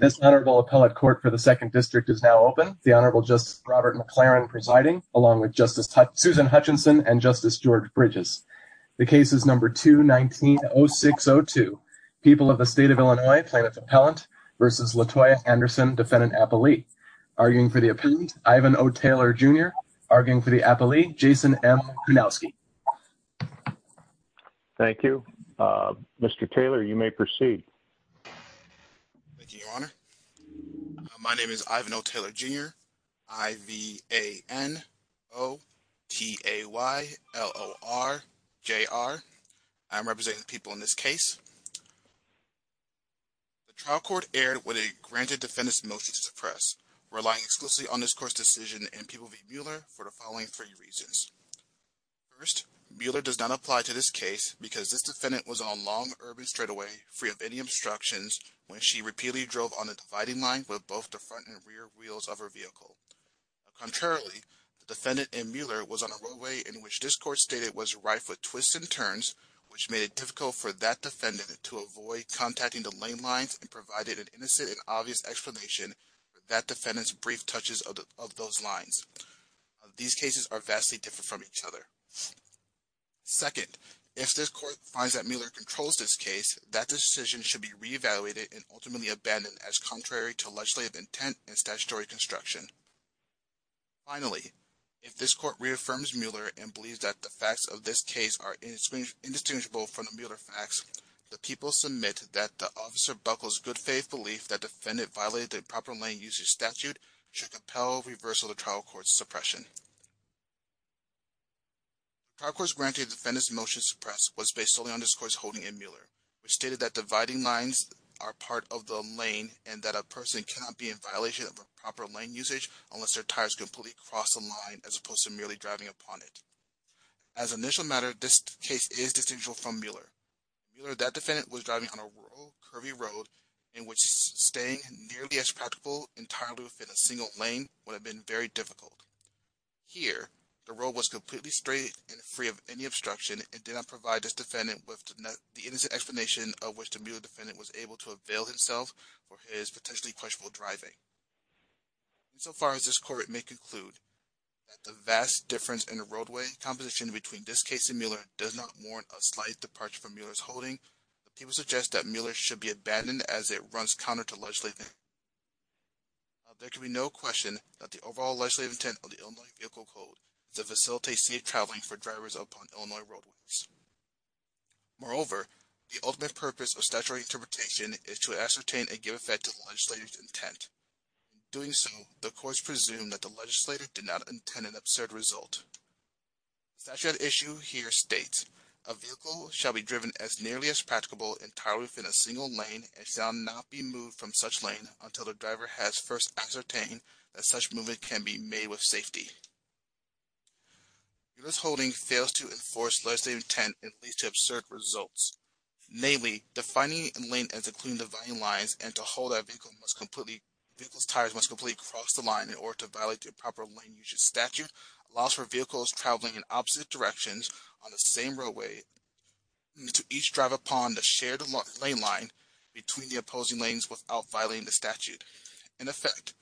This honorable appellate court for the 2nd District is now open. The Honorable Justice Robert McLaren presiding, along with Justice Susan Hutchinson and Justice George Bridges. The case is No. 2-19-0602, People of the State of Illinois plaintiff-appellant v. Latoya Anderson, defendant-appellee. Arguing for the appellant, Ivan O. Taylor, Jr. Arguing for the appellee, Jason M. Kunowski. Thank you. Mr. Taylor, you may proceed. Thank you, Your Honor. My name is Ivan O. Taylor, Jr., I-V-A-N-O-T-A-Y-L-O-R-J-R. I'm representing the people in this case. The trial court erred when it granted defendants motion to suppress, relying exclusively on this court's decision in People v. Mueller for the following three reasons. First, Mueller does not apply to this case because this defendant was on a long urban straightaway free of any obstructions when she repeatedly drove on a dividing line with both the front and rear wheels of her vehicle. Contrarily, the defendant and Mueller was on a roadway in which this court stated was rife with twists and turns, which made it difficult for that defendant to avoid contacting the lane lines and provided an innocent and obvious explanation for that defendant's brief touches of those lines. These cases are vastly different from each other. Second, if this court finds that Mueller controls this case, that decision should be re-evaluated and ultimately abandoned as contrary to legislative intent and statutory construction. Finally, if this court reaffirms Mueller and believes that the facts of this case are indistinguishable from the Mueller facts, the people submit that the officer Buckle's good faith belief that the defendant violated the proper lane usage statute should compel reversal of the trial court's suppression. The trial court's grant to a defendant's motion to suppress was based solely on this court's holding in Mueller, which stated that dividing lines are part of the lane and that a person cannot be in violation of a proper lane usage unless their tires completely cross the line as opposed to merely driving upon it. As an initial matter, this case is distinguishable from Mueller. If Mueller and that defendant were driving on a road, curvy road, in which staying nearly as practicable entirely within a single lane would have been very difficult. Here, the road was completely straight and free of any obstruction and did not provide this defendant with the innocent explanation of which the Mueller defendant was able to avail himself for his potentially questionable driving. So far as this court may conclude, that the vast difference in the roadway composition between this case and Mueller does not warrant a slight departure from Mueller's holding, but people suggest that Mueller should be abandoned as it runs counter to legislative intent. Now, there can be no question that the overall legislative intent of the Illinois Vehicle Code is to facilitate safe traveling for drivers upon Illinois roadways. Moreover, the ultimate purpose of statutory interpretation is to ascertain and give effect to the legislator's intent. In doing so, the court presumes that the legislator did not intend an absurd result. The statute at issue here states, A vehicle shall be driven as nearly as practicable entirely within a single lane and shall not be moved from such lane until the driver has first ascertained that such movement can be made with safety. Mueller's holding fails to enforce legislative intent and leads to absurd results. Namely, defining a lane as including dividing lines and to hold that vehicle must completely cross the line in order to violate the proper lane usage statute allows for vehicles traveling in opposite directions on the same roadway to each drive upon the shared lane line between the opposing lanes without violating the statute. In effect,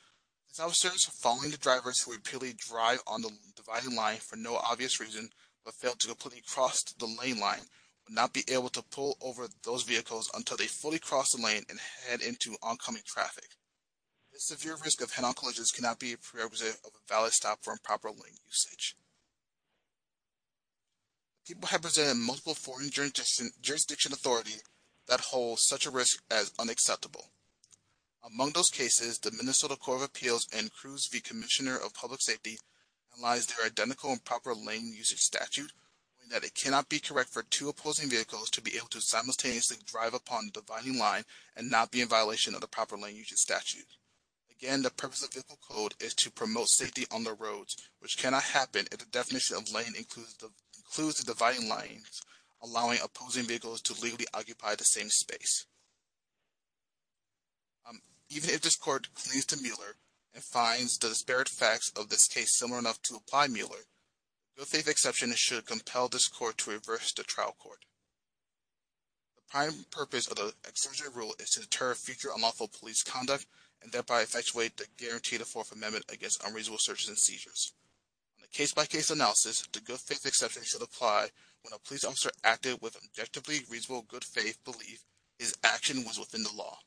it is not absurd to follow the drivers who repeatedly drive on the dividing line for no obvious reason but fail to completely cross the lane line, but not be able to pull over those vehicles until they fully cross the lane and head into oncoming traffic. This severe risk of head-on collisions cannot be a prerequisite of a valid stop for improper lane usage. People have presented multiple foreign jurisdiction authorities that hold such a risk as unacceptable. Among those cases, the Minnesota Court of Appeals and Cruz v. Commissioner of Public Safety analyze their identical improper lane usage statute and that it cannot be correct for two opposing vehicles to be able to simultaneously drive upon the dividing line and not be in violation of the proper lane usage statute. Again, the purpose of vehicle code is to promote safety on the roads, which cannot happen if the definition of lane includes the dividing lines, allowing opposing vehicles to legally occupy the same space. Even if this court clings to Mueller and finds the disparate facts of this case similar enough to apply Mueller, good-faith exceptions should compel this court to reverse the trial court. The prime purpose of the exertion rule is to deter future unlawful police conduct and thereby effectuate the guaranteed Fourth Amendment against unreasonable searches and seizures. In a case-by-case analysis, the good-faith exception should apply when a police officer acted with objectively reasonable good-faith belief his action was within the law.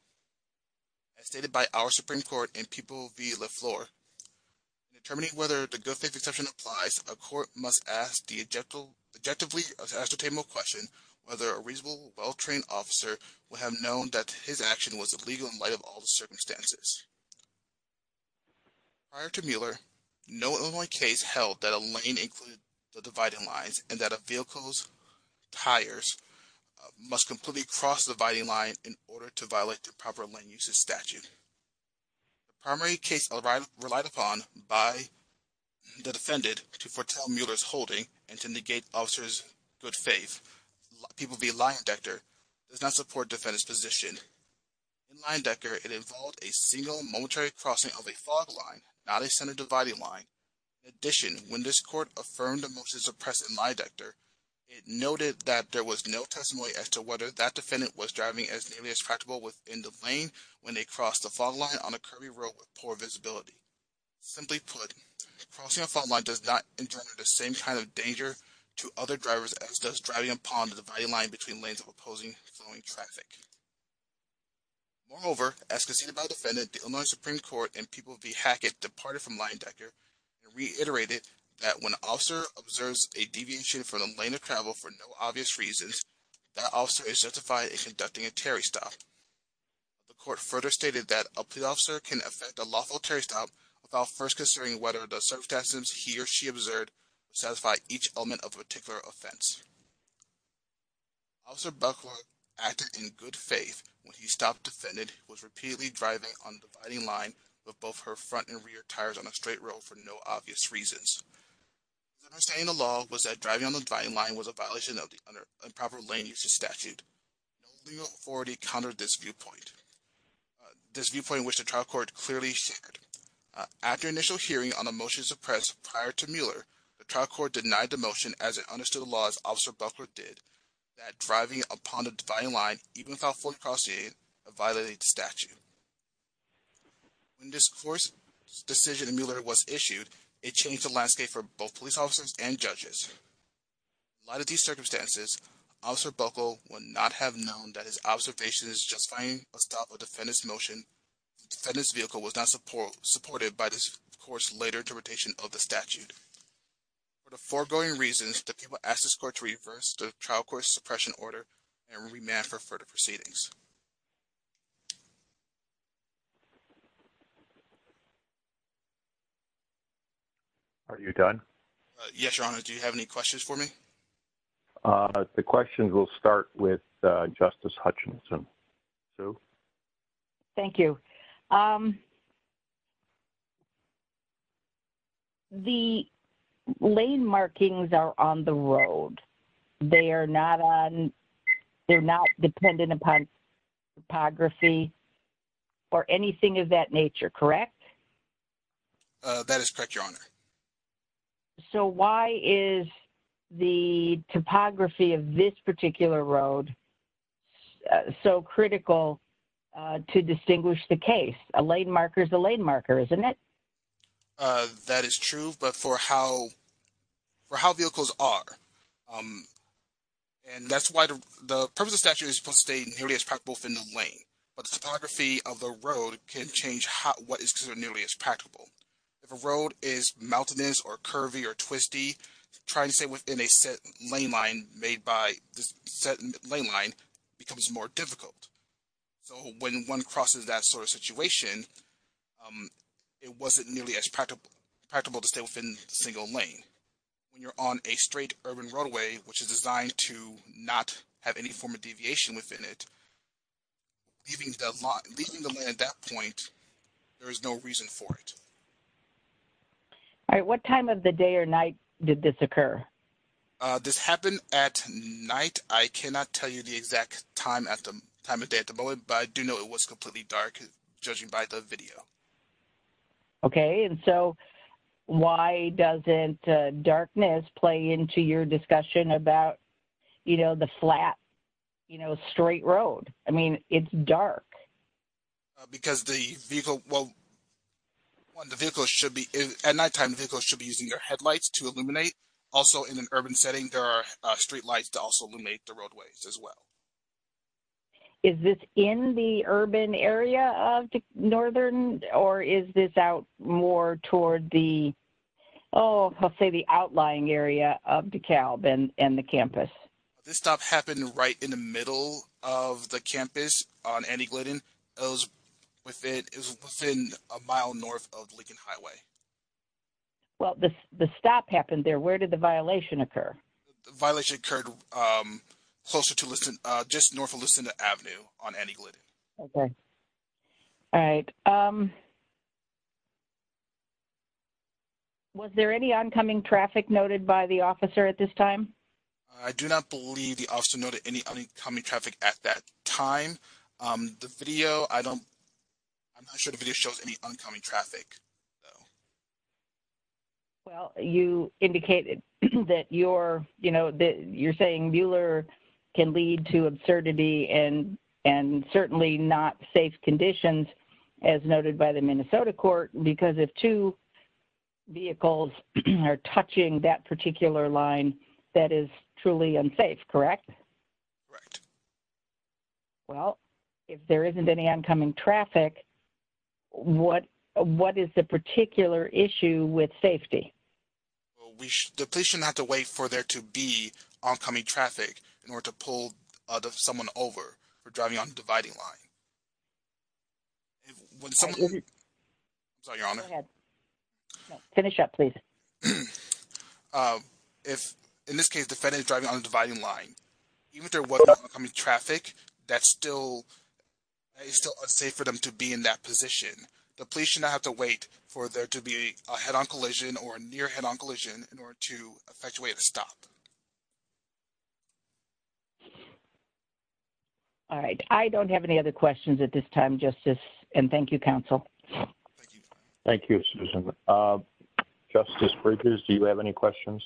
As stated by our Supreme Court in People v. Lafleur, in determining whether the good-faith exception applies, a court must ask the objectively ascertainable question whether a reasonable, well-trained officer would have known that his action was illegal in light of all the circumstances. Prior to Mueller, no Illinois case held that a lane included the dividing lines and that vehicles' tires must completely cross the dividing line in order to violate the proper lane usage statute. The primary case relied upon by the defendant to foretell Mueller's holding and to negate the officer's good-faith, in People v. Leyendecker, does not support the defendant's position. In Leyendecker, it involved a single momentary crossing of a fog line, not a center dividing line. In addition, when this court affirmed a motion to suppress in Leyendecker, it noted that there was no testimony as to whether that defendant was driving as nearly as practicable within the lane when they crossed the fog line on a curvy road with poor visibility. Simply put, crossing a fog line does not entail the same kind of danger to other drivers as does driving upon the dividing line between lanes of opposing flowing traffic. Moreover, as conceded by the defendant, the Illinois Supreme Court in People v. Hackett departed from Leyendecker and reiterated that when an officer observes a deviation from the lane of travel for no obvious reason, that officer is justified in conducting a Terry Stop. The court further stated that a police officer can effect a lawful Terry Stop without first considering whether the circumstances he or she observed satisfy each element of a particular offense. Officer Buckler acted in good faith when he stopped the defendant who was repeatedly driving on the dividing line with both her front and rear tires on a straight road for no obvious reasons. His understanding of the law was that driving on the dividing line was a violation of the improper lane usage statute. No legal authority countered this viewpoint, this viewpoint which the trial court clearly shared. After initial hearing on the motion to suppress prior to Mueller, the trial court denied the motion as it understood the law as Officer Buckler did, that driving upon the dividing line even without forecrossing a violated statute. When this court's decision in Mueller was issued, it changed the landscape for both police officers and judges. In light of these circumstances, Officer Buckler would not have known that his observation of justifying a stop of a defendant's vehicle was not supported by this court's later interpretation of the statute. For the foregoing reasons, the people asked this court to reverse the trial court's suppression order and remand for further proceedings. Are you done? Yes, Your Honor. Do you have any questions for me? The questions will start with Justice Hutchinson. Sue? Thank you. The lane markings are on the road. They are not dependent upon topography or anything of that nature, correct? That is correct, Your Honor. So why is the topography of this particular road so critical to distinguish the case? A lane marker is a lane marker, isn't it? That is true, but for how vehicles are. And that's why the purpose of the statute is supposed to stay nearly as practicable within the lane. But the topography of the road can change what is considered nearly as practicable. If a road is mountainous or curvy or twisty, trying to stay within a set lane line becomes more difficult. So when one crosses that sort of situation, it wasn't nearly as practicable to stay within a single lane. When you're on a straight urban roadway, which is designed to not have any form of deviation within it, leaving the lane at that point, there is no reason for it. All right, what time of the day or night did this occur? This happened at night. I cannot tell you the exact time of day at the moment, but I do know it was completely dark, judging by the video. Okay, and so why doesn't darkness play into your discussion about, you know, the flat, you know, straight road? I mean, it's dark. Because the vehicle, well, the vehicle should be, at nighttime, the vehicle should be using your headlights to illuminate. Also, in an urban setting, there are streetlights to also illuminate the roadways as well. Is this in the urban area of Northern, or is this out more toward the, oh, I'll say the outlying area of DeKalb and the campus? This stop happened right in the middle of the campus on Annie Glidden. It was within a mile north of Lincoln Highway. Well, the stop happened there. Where did the violation occur? The violation occurred closer to, just north of Lucinda Avenue on Annie Glidden. Okay. All right. Was there any oncoming traffic noted by the officer at this time? I do not believe the officer noted any oncoming traffic at that time. The video, I don't, I'm not sure the video shows any oncoming traffic. Well, you indicated that you're, you know, that you're saying Mueller can lead to absurdity and certainly not safe conditions, as noted by the Minnesota court, because if two vehicles are touching that particular line, that is truly unsafe, correct? Correct. Well, if there isn't any oncoming traffic, what is the particular issue with safety? Well, the police shouldn't have to wait for there to be oncoming traffic in order to pull someone over for driving on a dividing line. Sorry, Your Honor. No, finish up, please. If, in this case, the defendant is driving on a dividing line, even if there was oncoming traffic, that's still, it's still unsafe for them to be in that position. The police should not have to wait for there to be a head-on collision or a near head-on collision in order to effectuate a stop. All right. I don't have any other questions at this time, Justice, and thank you, counsel. Thank you. Thank you, Susan. Justice Bridges, do you have any questions?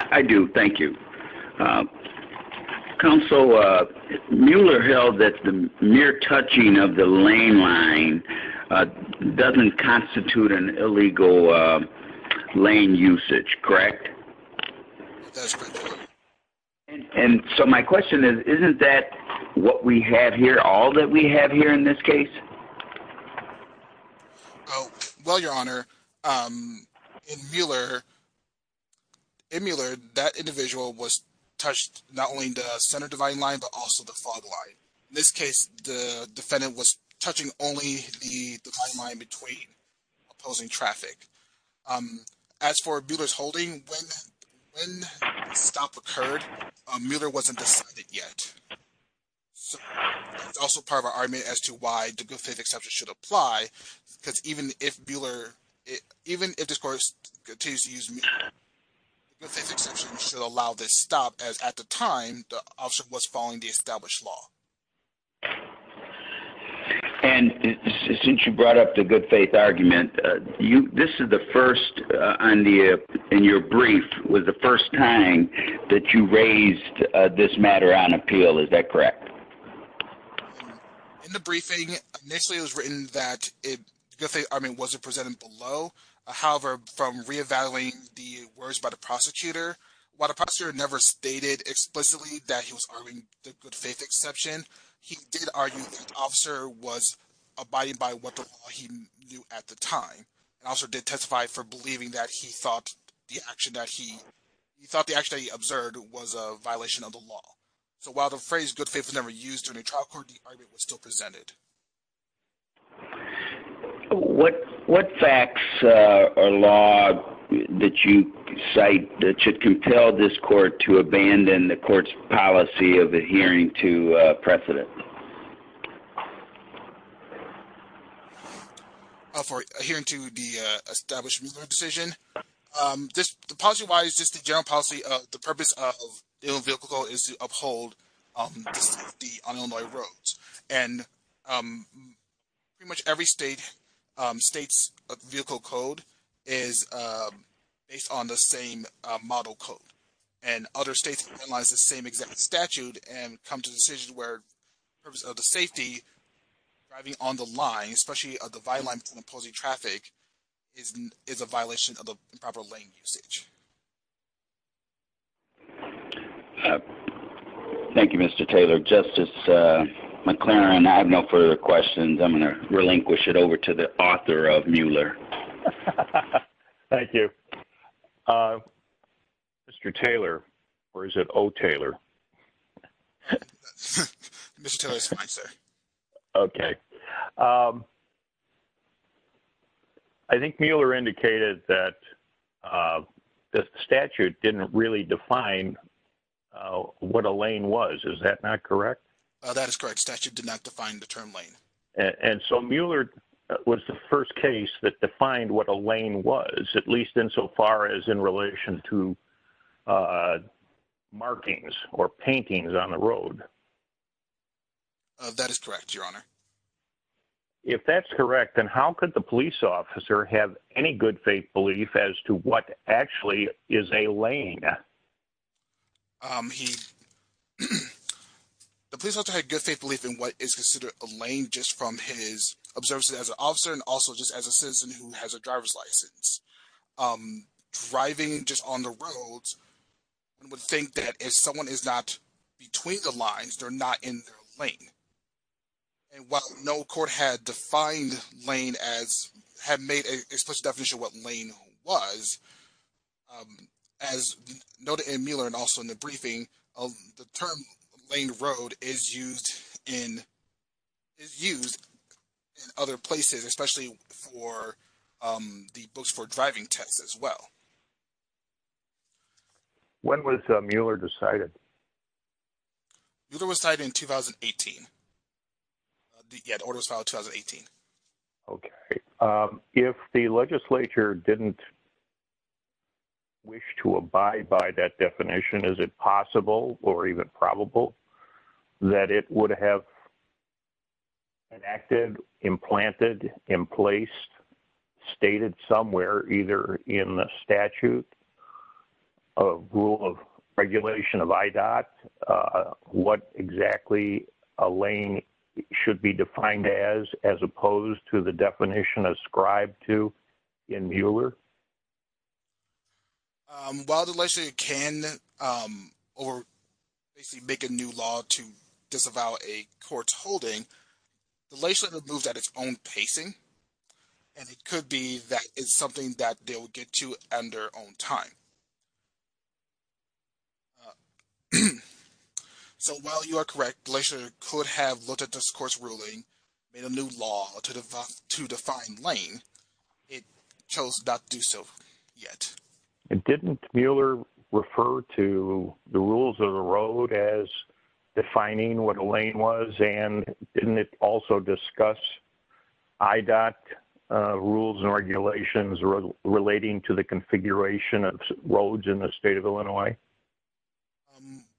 I do, thank you. Counsel, Mueller held that the mere touching of the lane line doesn't constitute an illegal lane usage, correct? That's correct. And so my question is, isn't that what we have here, all that we have here in this case? Well, Your Honor, in Mueller, that individual was touched not only in the center dividing line, but also the fog line. In this case, the defendant was touching only the dividing line between opposing traffic. As for Mueller's holding, when the stop occurred, Mueller wasn't decided yet. It's also part of our argument as to why the good-faith exception should apply, because even if Mueller, even if this court continues to use the good-faith exception, it should allow this stop, as at the time, the officer was following the established law. And since you brought up the good-faith argument, this is the first in your brief, was the first time that you raised this matter on appeal, is that correct? In the briefing, initially it was written that the good-faith argument wasn't presented below. However, from re-evaluating the words by the prosecutor, while the prosecutor never stated explicitly that he was arguing the good-faith exception, he did argue that the officer was abiding by what he knew at the time. The officer did testify for believing that he thought the action that he observed was a violation of the law. So while the phrase good-faith was never used in the trial court, the argument was still presented. What facts or law did you cite that should compel this court to abandon the court's policy of adhering to precedent? For adhering to the establishment decision, the policy-wise, just the general policy, the purpose of the Illinois Vehicle Code is to uphold the safety on Illinois roads. And pretty much every state's vehicle code is based on the same model code. And other states utilize the same exact statute and come to a decision where the purpose of the safety, driving on the line, especially the byline for opposing traffic, is a violation of the proper lane usage. Thank you, Mr. Taylor. Justice McLaren, I have no further questions. I'm going to relinquish it over to the author of Mueller. Thank you. Mr. Taylor, or is it O. Taylor? Mr. Taylor is fine, sir. Okay. I think Mueller indicated that the statute didn't really define what a lane was. Is that not correct? That is correct. The statute did not define the term lane. And so Mueller was the first case that defined what a lane was, at least insofar as in relation to markings or paintings on the road. That is correct, Your Honor. If that's correct, then how could the police officer have any good faith belief as to what actually is a lane? The police officer had good faith belief in what is considered a lane just from his observations as an officer and also just as a citizen who has a driver's license. Driving just on the roads, one would think that if someone is not between the lines, they're not in their lane. And while no court had defined lane as – had made a special definition of what lane was, as noted in Mueller and also in the briefing, the term lane road is used in other places, especially for the books for driving tests as well. When was Mueller decided? Mueller was decided in 2018. Yeah, the order was filed in 2018. Okay. If the legislature didn't wish to abide by that definition, is it possible or even probable that it would have enacted, implanted, emplaced, stated somewhere either in the statute of rule of regulation of IDOT what exactly a lane should be defined as as opposed to the definition ascribed to in Mueller? While the legislature can or basically make a new law to disavow a court's holding, the legislature moves at its own pacing and it could be that it's something that they will get to at their own time. So while you are correct, the legislature could have looked at this court's ruling, made a new law to define lane, it chose not to do so yet. Didn't Mueller refer to the rules of the road as defining what a lane was and didn't it also discuss IDOT rules and regulations relating to the configuration of roads in the state of Illinois?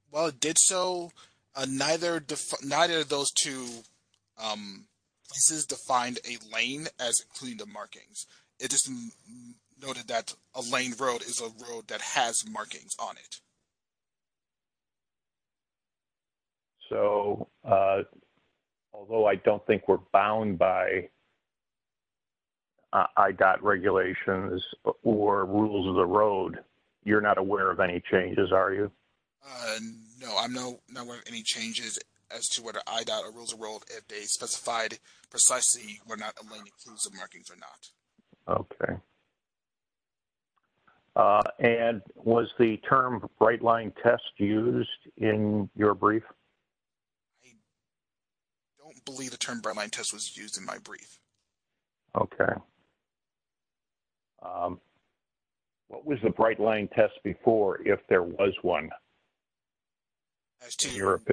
While it did so, neither of those two places defined a lane as including the markings. It just noted that a lane road is a road that has markings on it. So, although I don't think we're bound by IDOT regulations or rules of the road, you're not aware of any changes, are you? No, I'm not aware of any changes as to whether IDOT rules of the road, if they specified precisely whether a lane includes the markings or not. Okay. And was the term brightline test used in your brief? I don't believe the term brightline test was used in my brief. Okay. What was the brightline test before if there was one? As to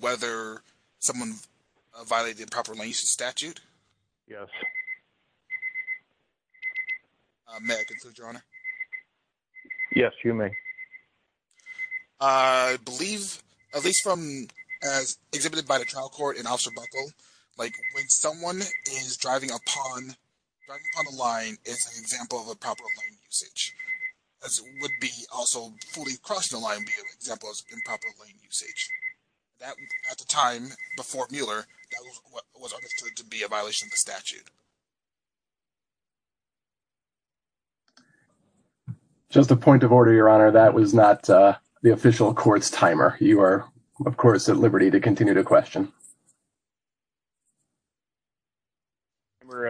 whether someone violated proper lane use statute? Yes. May I conclude, Your Honor? Yes, you may. I believe, at least from as exhibited by the trial court and Officer Buckle, like when someone is driving upon a line as an example of improper lane usage, as would be also fully across the line be an example of improper lane usage. At the time before Mueller, that was understood to be a violation of the statute. Just a point of order, Your Honor. That was not the official court's timer. You are, of course, at liberty to continue to question.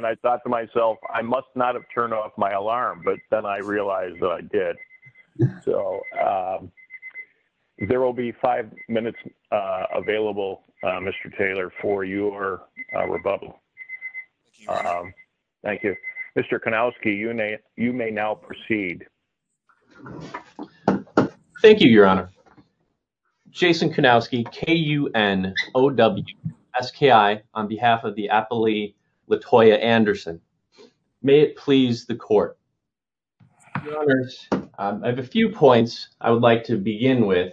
I thought to myself, I must not have turned off my alarm, but then I realized that I did. There will be five minutes available, Mr. Taylor, for your rebuttal. Thank you. Mr. Kunowski, you may now proceed. Thank you, Your Honor. Jason Kunowski, K-U-N-O-W-S-K-I, on behalf of the appellee Latoya Anderson. May it please the court. Your Honor, I have a few points I would like to begin with.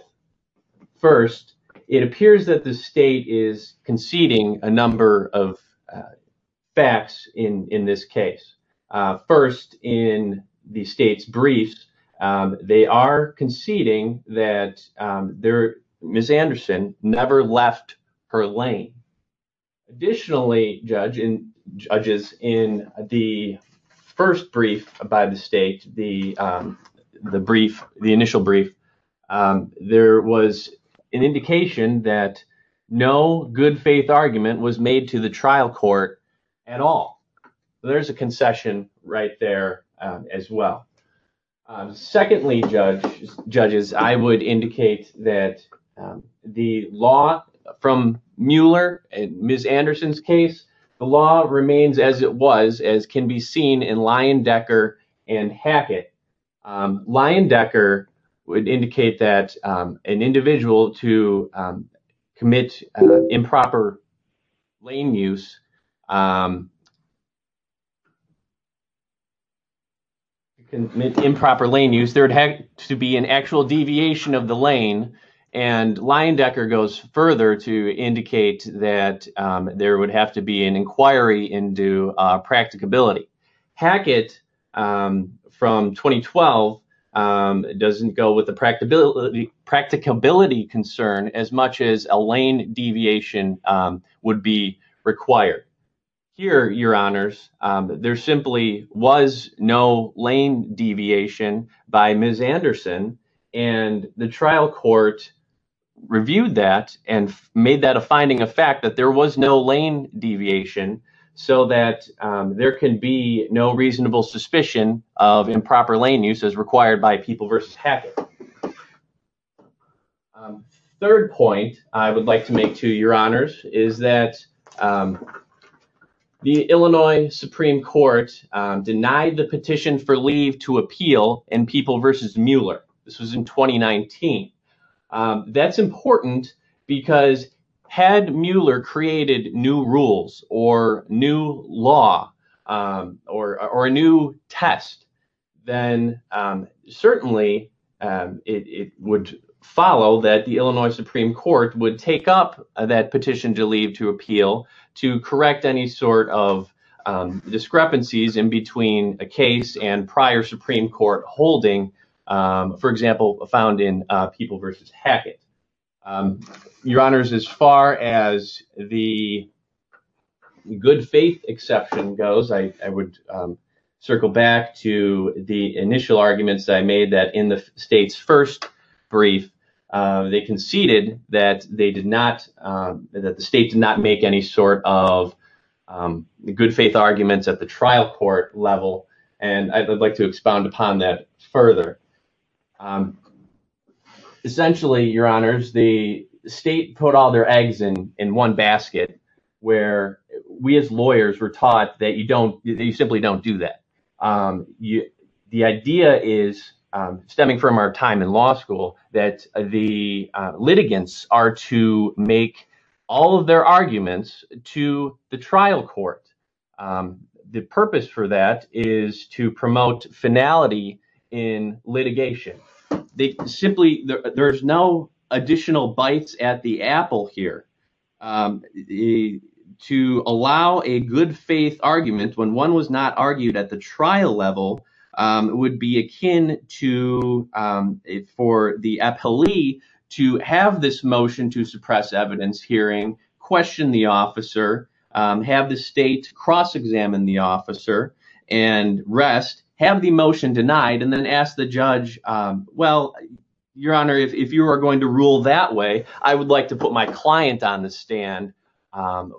First, it appears that the state is conceding a number of facts in this case. First, in the state's briefs, they are conceding that Ms. Anderson never left her lane. Additionally, judges, in the first brief by the state, the initial brief, there was an indication that no good faith argument was made to the trial court at all. There's a concession right there as well. Secondly, judges, I would indicate that the law from Mueller, Ms. Anderson's case, the law remains as it was, as can be seen in Leyendecker and Hackett. In improper lane use, there would have to be an actual deviation of the lane, and Leyendecker goes further to indicate that there would have to be an inquiry into practicability. Hackett, from 2012, doesn't go with the practicability concern as much as a lane deviation would be required. Here, Your Honors, there simply was no lane deviation by Ms. Anderson, and the trial court reviewed that and made that a finding of fact, that there was no lane deviation, so that there can be no reasonable suspicion of improper lane use as required by People v. Hackett. Third point I would like to make to Your Honors is that the Illinois Supreme Court denied the petition for leave to appeal in People v. Mueller. This was in 2019. That's important because had Mueller created new rules or new law or a new test, then certainly it would follow that the Illinois Supreme Court would take up that petition to leave to appeal to correct any sort of discrepancies in between a case and prior Supreme Court holding For example, found in People v. Hackett. Your Honors, as far as the good faith exception goes, I would circle back to the initial arguments I made that in the state's first brief, they conceded that the state did not make any sort of good faith arguments at the trial court level, and I'd like to expound upon that further. Essentially, Your Honors, the state put all their eggs in one basket, where we as lawyers were taught that you simply don't do that. The idea is, stemming from our time in law school, that the litigants are to make all of their arguments to the trial court. The purpose for that is to promote finality in litigation. There's no additional bites at the apple here. To allow a good faith argument when one was not argued at the trial level would be akin to for the appellee to have this motion to suppress evidence hearing, question the officer, have the state cross-examine the officer and rest, have the motion denied, and then ask the judge, well, Your Honor, if you are going to rule that way, I would like to put my client on the stand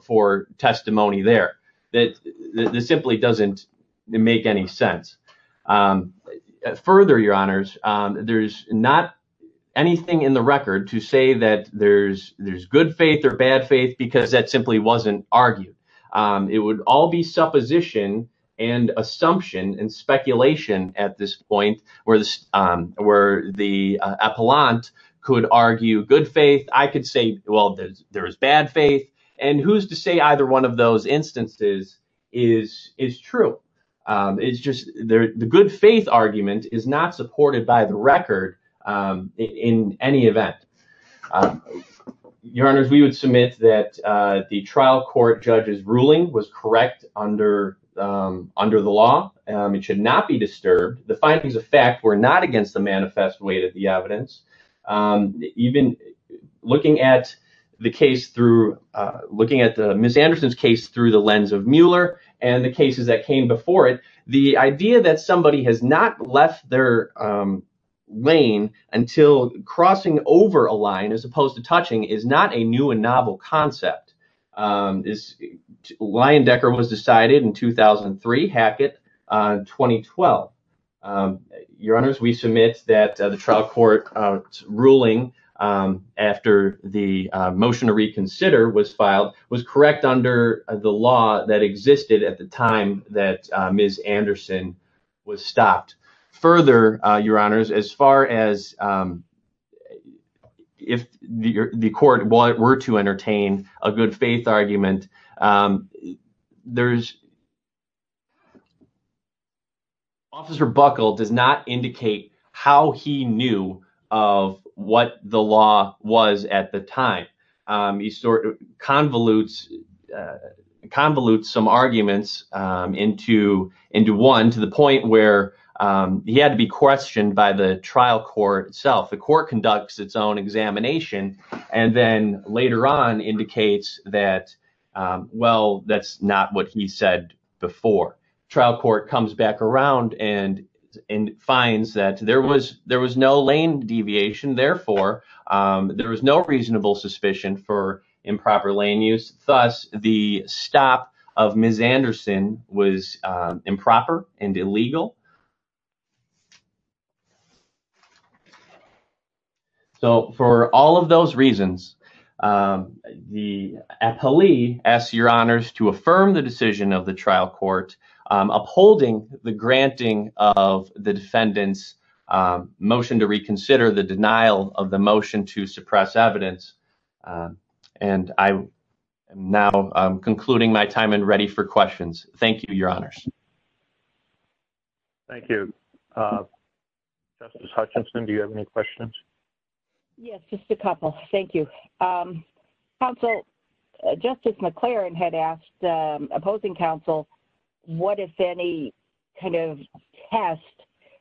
for testimony there. That simply doesn't make any sense. Further, Your Honors, there's not anything in the record to say that there's good faith or bad faith, because that simply wasn't argued. It would all be supposition and assumption and speculation at this point, where the appellant could argue good faith. I could say, well, there is bad faith, and who's to say either one of those instances is true. It's just the good faith argument is not supported by the record in any event. Your Honors, we would submit that the trial court judge's ruling was correct under the law. It should not be disturbed. The findings of fact were not against the manifest weight of the evidence. Even looking at the case through, looking at Ms. Anderson's case through the lens of Mueller and the cases that came before it, the idea that somebody has not left their lane until crossing over a line as opposed to touching is not a new and novel concept. Lyon-Decker was decided in 2003, Hackett in 2012. Your Honors, we submit that the trial court's ruling after the motion to reconsider was filed was correct under the law that existed at the time that Ms. Anderson was stopped. Further, Your Honors, as far as if the court were to entertain a good faith argument, Officer Buckle does not indicate how he knew of what the law was at the time. He convolutes some arguments into one to the point where he had to be questioned by the trial court itself. The court conducts its own examination and then later on indicates that, well, that's not what he said before. The trial court comes back around and finds that there was no lane deviation. Therefore, there was no reasonable suspicion for improper lane use. Thus, the stop of Ms. Anderson was improper and illegal. For all of those reasons, the appellee asks Your Honors to affirm the decision of the trial court upholding the granting of the defendant's motion to reconsider the denial of the motion to suppress evidence. I am now concluding my time and ready for questions. Thank you, Your Honors. Thank you. Justice Hutchinson, do you have any questions? Yes, just a couple. Thank you. Counsel, Justice McLaren had asked opposing counsel what, if any, kind of test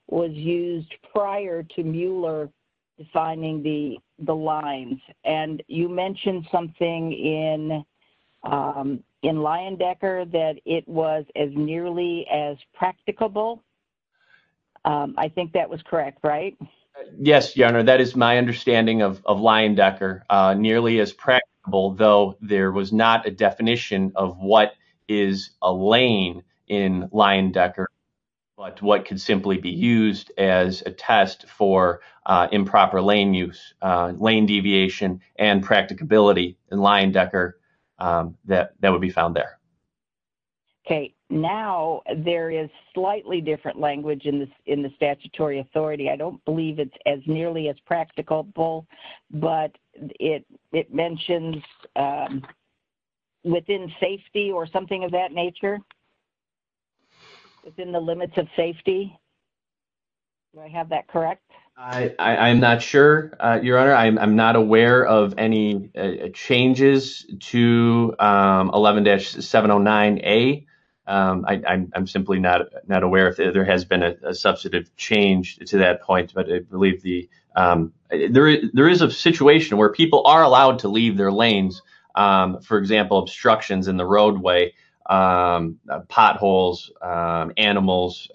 was used prior to Mueller defining the lines. You mentioned something in Leyendecker that it was as nearly as practicable. I think that was correct, right? Yes, Your Honor. That is my understanding of Leyendecker. Nearly as practicable, though there was not a definition of what is a lane in Leyendecker, but what could simply be used as a test for improper lane use. Lane deviation and practicability in Leyendecker that would be found there. Okay. Now, there is slightly different language in the statutory authority. I don't believe it's as nearly as practicable, but it mentions within safety or something of that nature. Within the limits of safety. Do I have that correct? I'm not sure, Your Honor. I'm not aware of any changes to 11-709A. I'm simply not aware if there has been a substantive change to that point. There is a situation where people are allowed to leave their lanes, for example, obstructions in the roadway, potholes, animals,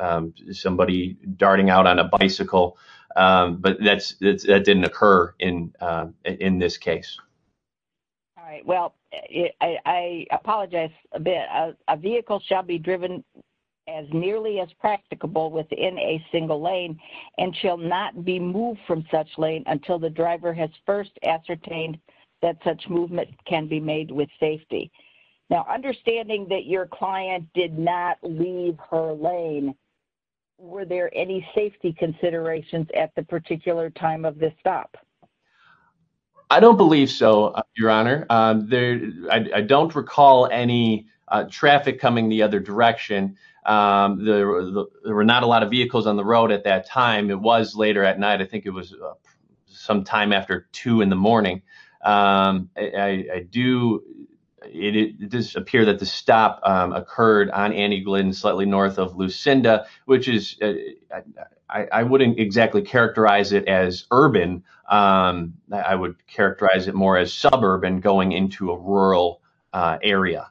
somebody darting out on a bicycle, but that didn't occur in this case. All right. Well, I apologize a bit. A vehicle shall be driven as nearly as practicable within a single lane and shall not be moved from such lane until the driver has first ascertained that such movement can be made with safety. Now, understanding that your client did not leave her lane, were there any safety considerations at the particular time of this stop? I don't believe so, Your Honor. I don't recall any traffic coming the other direction. There were not a lot of vehicles on the road at that time. It was later at night. I think it was sometime after 2 in the morning. It does appear that the stop occurred on Annie Glynn, slightly north of Lucinda, which I wouldn't exactly characterize it as urban. I would characterize it more as suburban going into a rural area.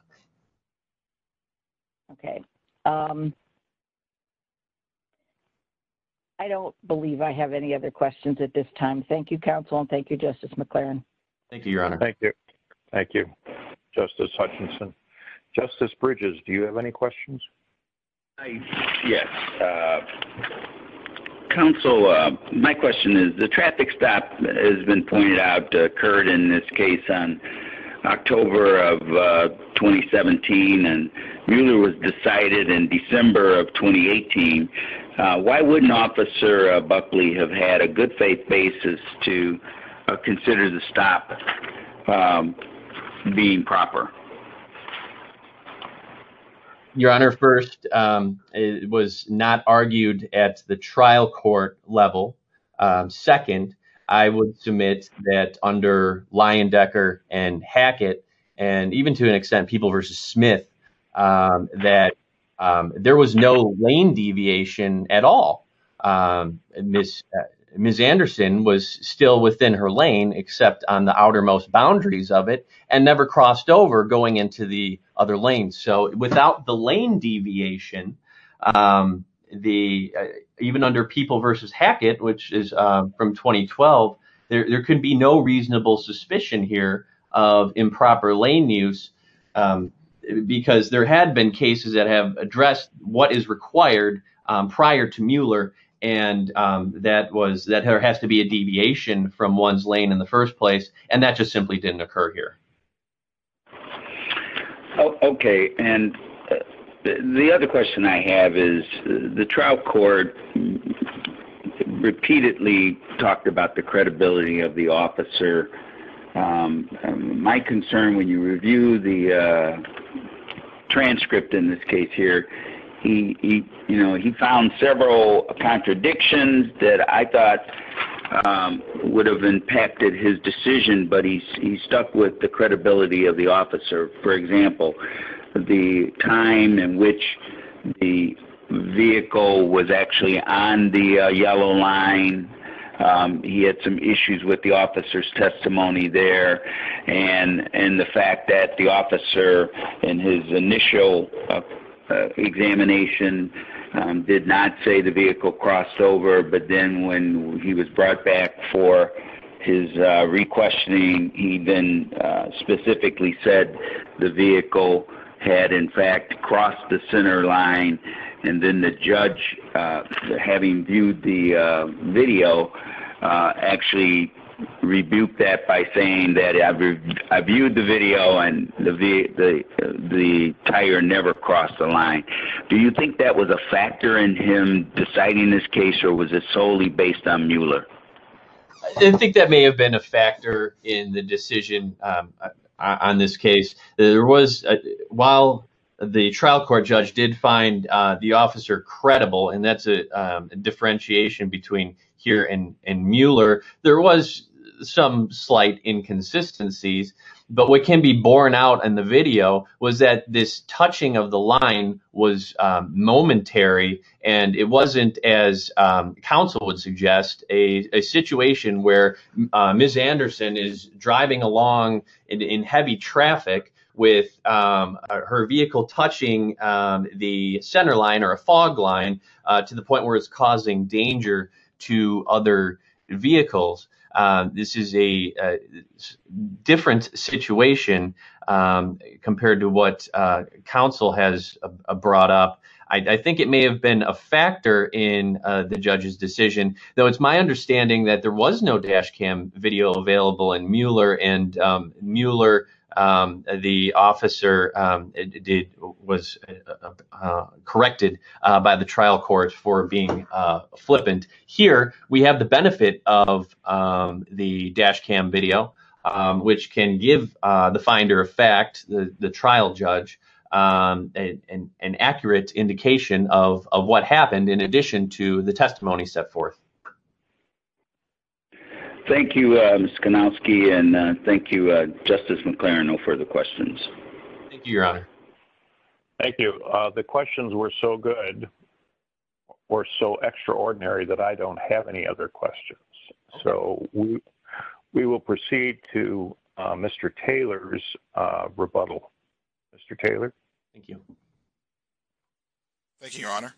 Okay. I don't believe I have any other questions at this time. Thank you, Counsel, and thank you, Justice McLaren. Thank you, Your Honor. Thank you. Thank you, Justice Hutchinson. Justice Bridges, do you have any questions? Yes. Counsel, my question is, the traffic stop has been pointed out to occur in this case on October of 2017 and really was decided in December of 2018. Why wouldn't Officer Buckley have had a good faith basis to consider the stop being proper? Your Honor, first, it was not argued at the trial court level. Second, I would submit that under Leyendecker and Hackett, and even to an extent People v. Smith, that there was no lane deviation at all. Ms. Anderson was still within her lane, except on the outermost boundaries of it, and never crossed over going into the other lanes. Without the lane deviation, even under People v. Hackett, which is from 2012, there could be no reasonable suspicion here of improper lane use, because there had been cases that have addressed what is required prior to Mueller, and that there has to be a deviation from one's lane in the first place, and that just simply didn't occur here. Okay. The other question I have is, the trial court repeatedly talked about the credibility of the officer. My concern when you review the transcript in this case here, he found several contradictions that I thought would have impacted his decision, but he stuck with the credibility of the officer. For example, the time in which the vehicle was actually on the yellow line, he had some issues with the officer's testimony there, and the fact that the officer, in his initial examination, did not say the vehicle crossed over, but then when he was brought back for his re-questioning, he then specifically said the vehicle had, in fact, crossed the center line, and then the judge, having viewed the video, actually rebuked that by saying that, I viewed the video, and the tire never crossed the line. Do you think that was a factor in him deciding this case, or was it solely based on Mueller? I think that may have been a factor in the decision on this case. While the trial court judge did find the officer credible, and that's a differentiation between here and Mueller, there was some slight inconsistencies. But what can be borne out in the video was that this touching of the line was momentary, and it wasn't, as counsel would suggest, a situation where Ms. Anderson is driving along in heavy traffic with her vehicle touching the center line or a fog line to the point where it's causing danger to other vehicles. This is a different situation compared to what counsel has brought up. I think it may have been a factor in the judge's decision, though it's my understanding that there was no dash cam video available in Mueller, and Mueller, the officer, was corrected by the trial court for being flippant. Here, we have the benefit of the dash cam video, which can give the finder of fact, the trial judge, an accurate indication of what happened in addition to the testimony set forth. Thank you, Mr. Konowski, and thank you, Justice McClaren. No further questions. Thank you, Your Honor. Thank you. The questions were so good or so extraordinary that I don't have any other questions. So we will proceed to Mr. Taylor's rebuttal. Mr. Taylor. Thank you. Thank you, Your Honor.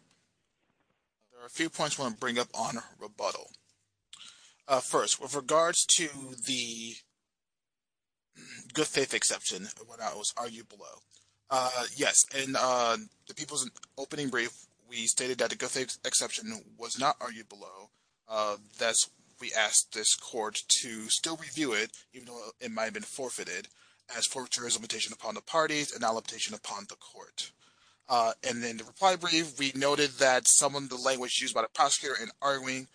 There are a few points I want to bring up on rebuttal. First, with regards to the good faith exception that was argued below. Yes, in the people's opening brief, we stated that the good faith exception was not argued below. Thus, we asked this court to still review it, even though it might have been forfeited, as forfeiture is a limitation upon the parties and not a limitation upon the court. In the reply brief, we noted that some of the language used by the prosecutor in arguing,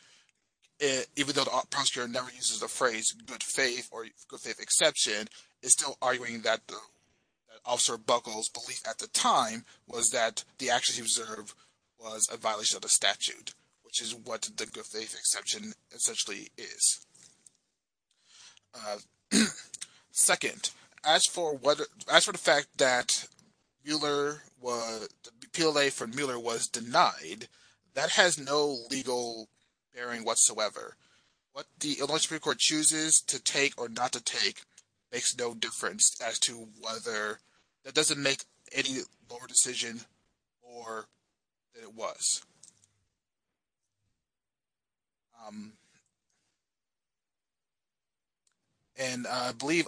even though the prosecutor never uses the phrase good faith or good faith exception, is still arguing that Officer Buckles' belief at the time was that the action he observed was a violation of the statute, which is what the good faith exception essentially is. Second, as for the fact that the PLA for Mueller was denied, that has no legal bearing whatsoever. What the Illinois Supreme Court chooses to take or not to take makes no difference as to whether that doesn't make any lower decision or that it was. And I believe,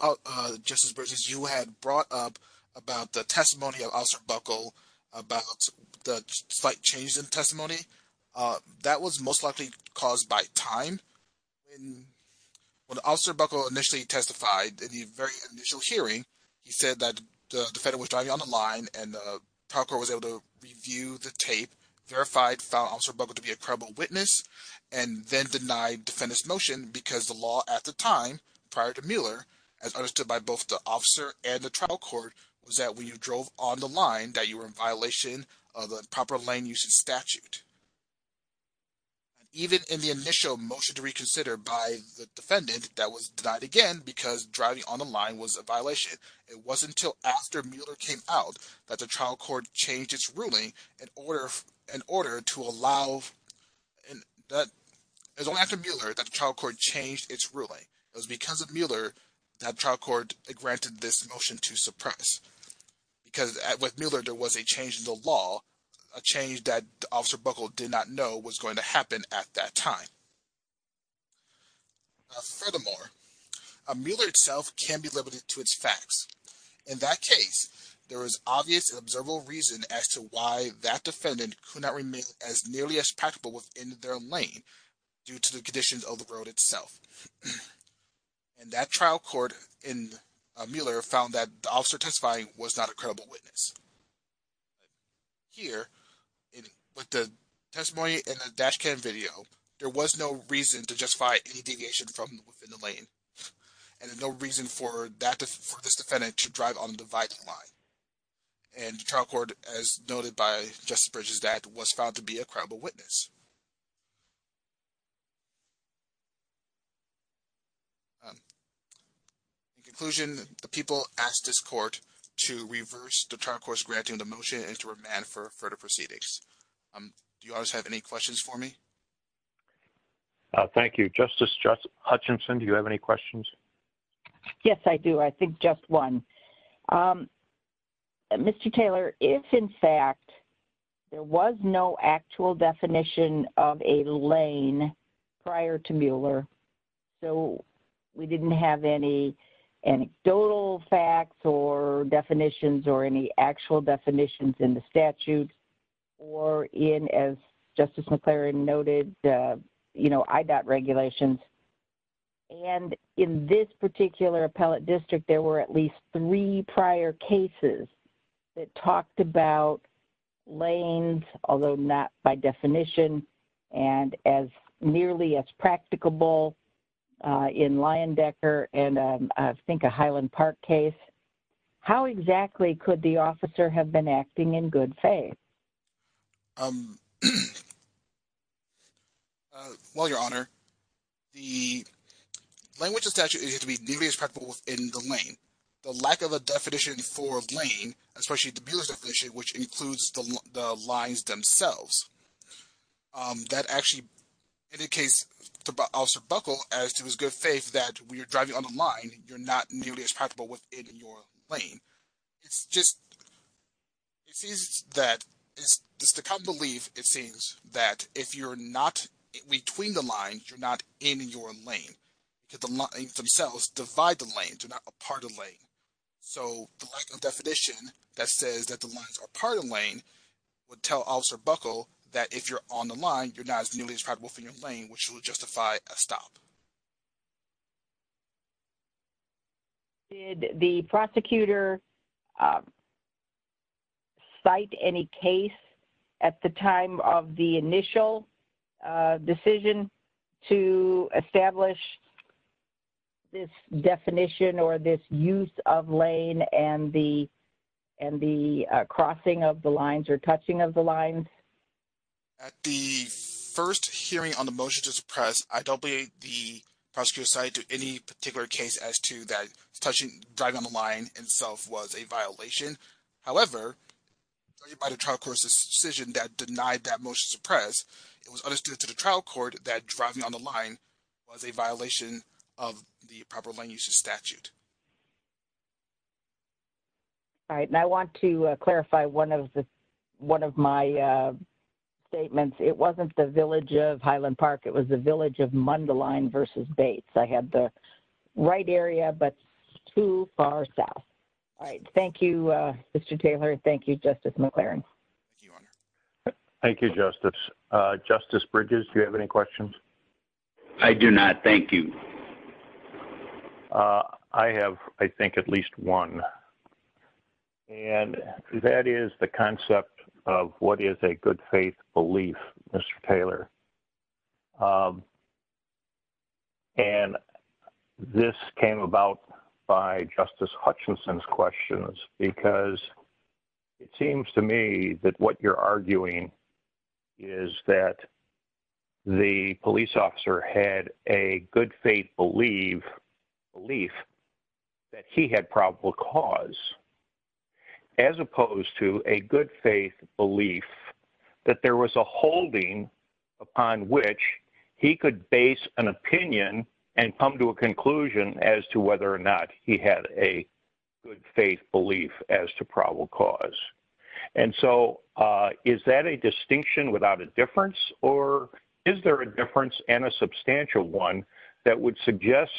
Justice Burgess, you had brought up about the testimony of Officer Buckle about the slight changes in testimony. That was most likely caused by time. When Officer Buckle initially testified in the very initial hearing, he said that the defendant was driving on the line and the trial court was able to review the tape, verified, found Officer Buckle to be a credible witness, and then denied defendant's motion because the law at the time, prior to Mueller, as understood by both the officer and the trial court, was that when you drove on the line that you were in violation of the proper lane usage statute. Even in the initial motion to reconsider by the defendant that was denied again because driving on the line was a violation, it wasn't until after Mueller came out that the trial court changed its ruling in order to allow... It was only after Mueller that the trial court changed its ruling. It was because of Mueller that the trial court granted this motion to suppress. Because with Mueller, there was a change in the law, a change that Officer Buckle did not know was going to happen at that time. Furthermore, Mueller itself can be limited to its facts. In that case, there is obvious and observable reason as to why that defendant could not remain as nearly as practical within their lane due to the conditions of the road itself. And that trial court in Mueller found that the officer testifying was not a credible witness. Here, with the testimony in the dash cam video, there was no reason to justify any deviation from within the lane, and no reason for this defendant to drive on the dividing line. And the trial court, as noted by Justice Bridges, that was found to be a credible witness. In conclusion, the people asked this court to reverse the trial court's granting the motion and to remand for further proceedings. Do you all have any questions for me? Thank you. Justice Hutchinson, do you have any questions? Yes, I do. I think just one. Mr. Taylor, if, in fact, there was no actual definition of a lane prior to Mueller, so we didn't have any anecdotal facts or definitions or any actual definitions in the statute, or in, as Justice McClaren noted, IDOT regulations, and in this particular appellate district there were at least three prior cases that talked about lanes, although not by definition and as nearly as practicable in Leyendecker and I think a Highland Park case, how exactly could the officer have been acting in good faith? Well, Your Honor, the language of the statute is to be nearly as practicable within the lane. The lack of a definition for a lane, especially the Mueller's definition, which includes the lines themselves, that actually indicates to Officer Buckle, as to his good faith, that when you're driving on the line, you're not nearly as practicable within your lane. It's just that it's the common belief, it seems, that if you're not between the lines, you're not in your lane. The lines themselves divide the lane. They're not a part of the lane. So the lack of definition that says that the lines are part of the lane would tell Officer Buckle that if you're on the line, you're not nearly as practicable within your lane, which would justify a stop. Did the prosecutor cite any case at the time of the initial decision to establish this definition or this use of lane and the crossing of the lines or touching of the lines? At the first hearing on the motion to suppress, I don't believe the prosecutor cited any particular case as to that touching, driving on the line itself was a violation. However, by the trial court's decision that denied that motion to suppress, it was understood to the trial court that driving on the line was a violation of the proper lane use statute. All right. And I want to clarify one of my statements. It wasn't the village of Highland Park. It was the village of Mundelein v. Bates. I had the right area, but too far south. All right. Thank you, Mr. Taylor. Thank you, Justice McLaren. Thank you, Justice. Justice Bridges, do you have any questions? I do not. Thank you. I have, I think, at least one. And that is the concept of what is a good faith belief, Mr. Taylor. And this came about by Justice Hutchinson's questions, because it seems to me that what you're arguing is that the police officer had a good faith belief that he had probable cause, as opposed to a good faith belief that there was a holding upon which he could base an opinion and come to a conclusion as to whether or not he had a good faith belief as to probable cause. And so is that a distinction without a difference? Or is there a difference and a substantial one that would suggest,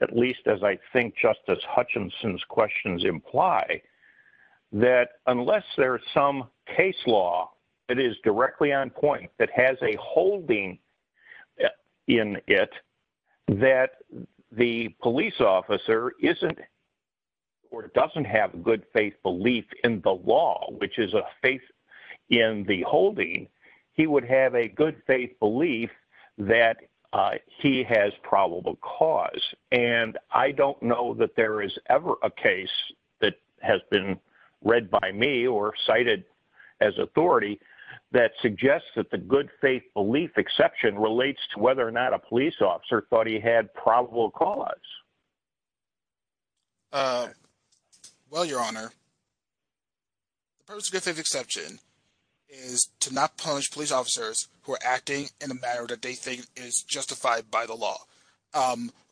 at least as I think Justice Hutchinson's questions imply, that unless there is some case law that is directly on point, that has a holding in it, that the police officer isn't or doesn't have a good faith belief in the law, which is a faith in the holding, he would have a good faith belief that he has probable cause. And I don't know that there is ever a case that has been read by me or cited as authority that suggests that the good faith belief exception relates to whether or not a police officer thought he had probable cause. Well, Your Honor, the purpose of good faith exception is to not punish police officers who are acting in a manner that they think is justified by the law.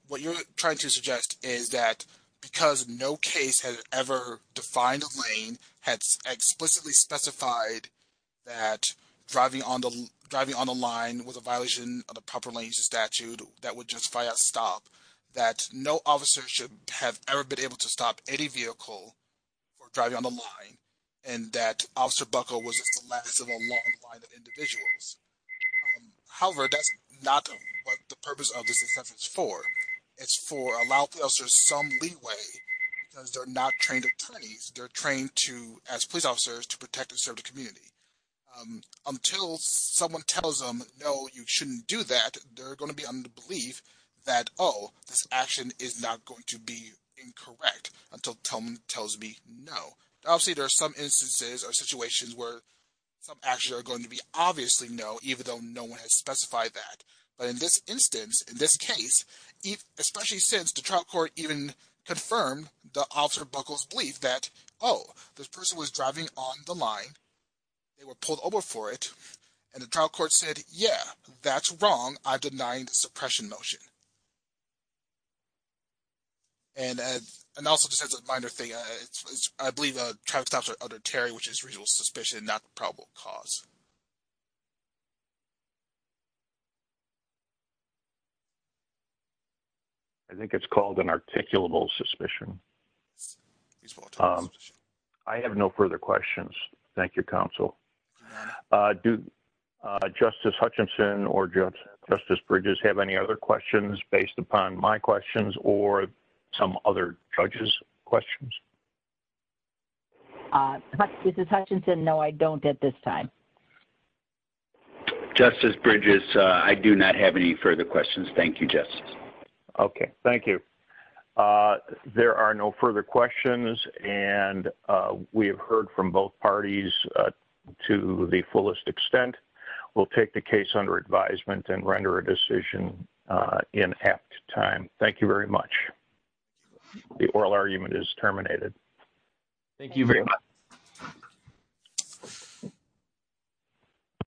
What you're trying to suggest is that because no case has ever defined a lane, has explicitly specified that driving on the line was a violation of the proper lanes statute that would justify a stop, that no officer should have ever been able to stop any vehicle for driving on the line, and that Officer Buckle was just the last of a long line of individuals. However, that's not what the purpose of this exception is for. It's for allowing officers some leeway because they're not trained attorneys. They're trained as police officers to protect and serve the community. Until someone tells them, no, you shouldn't do that, they're going to be under the belief that, oh, this action is not going to be incorrect until someone tells me no. Obviously, there are some instances or situations where some actions are going to be obviously no, even though no one has specified that. But in this instance, in this case, especially since the trial court even confirmed the Officer Buckle's belief that, oh, this person was driving on the line, they were pulled over for it, and the trial court said, yeah, that's wrong, I'm denying the suppression motion. And also just as a minor thing, I believe the traffic stops are under Terry, which is reasonable suspicion, not probable cause. I think it's called an articulable suspicion. I have no further questions. Thank you, Counsel. Do Justice Hutchinson or Justice Bridges have any other questions based upon my questions or some other judges' questions? Justice Hutchinson, no, I don't at this time. Justice Bridges, I do not have any further questions. Thank you, Justice. Okay, thank you. There are no further questions. And we have heard from both parties to the fullest extent. We'll take the case under advisement and render a decision in apt time. Thank you very much. The oral argument is terminated. Thank you very much.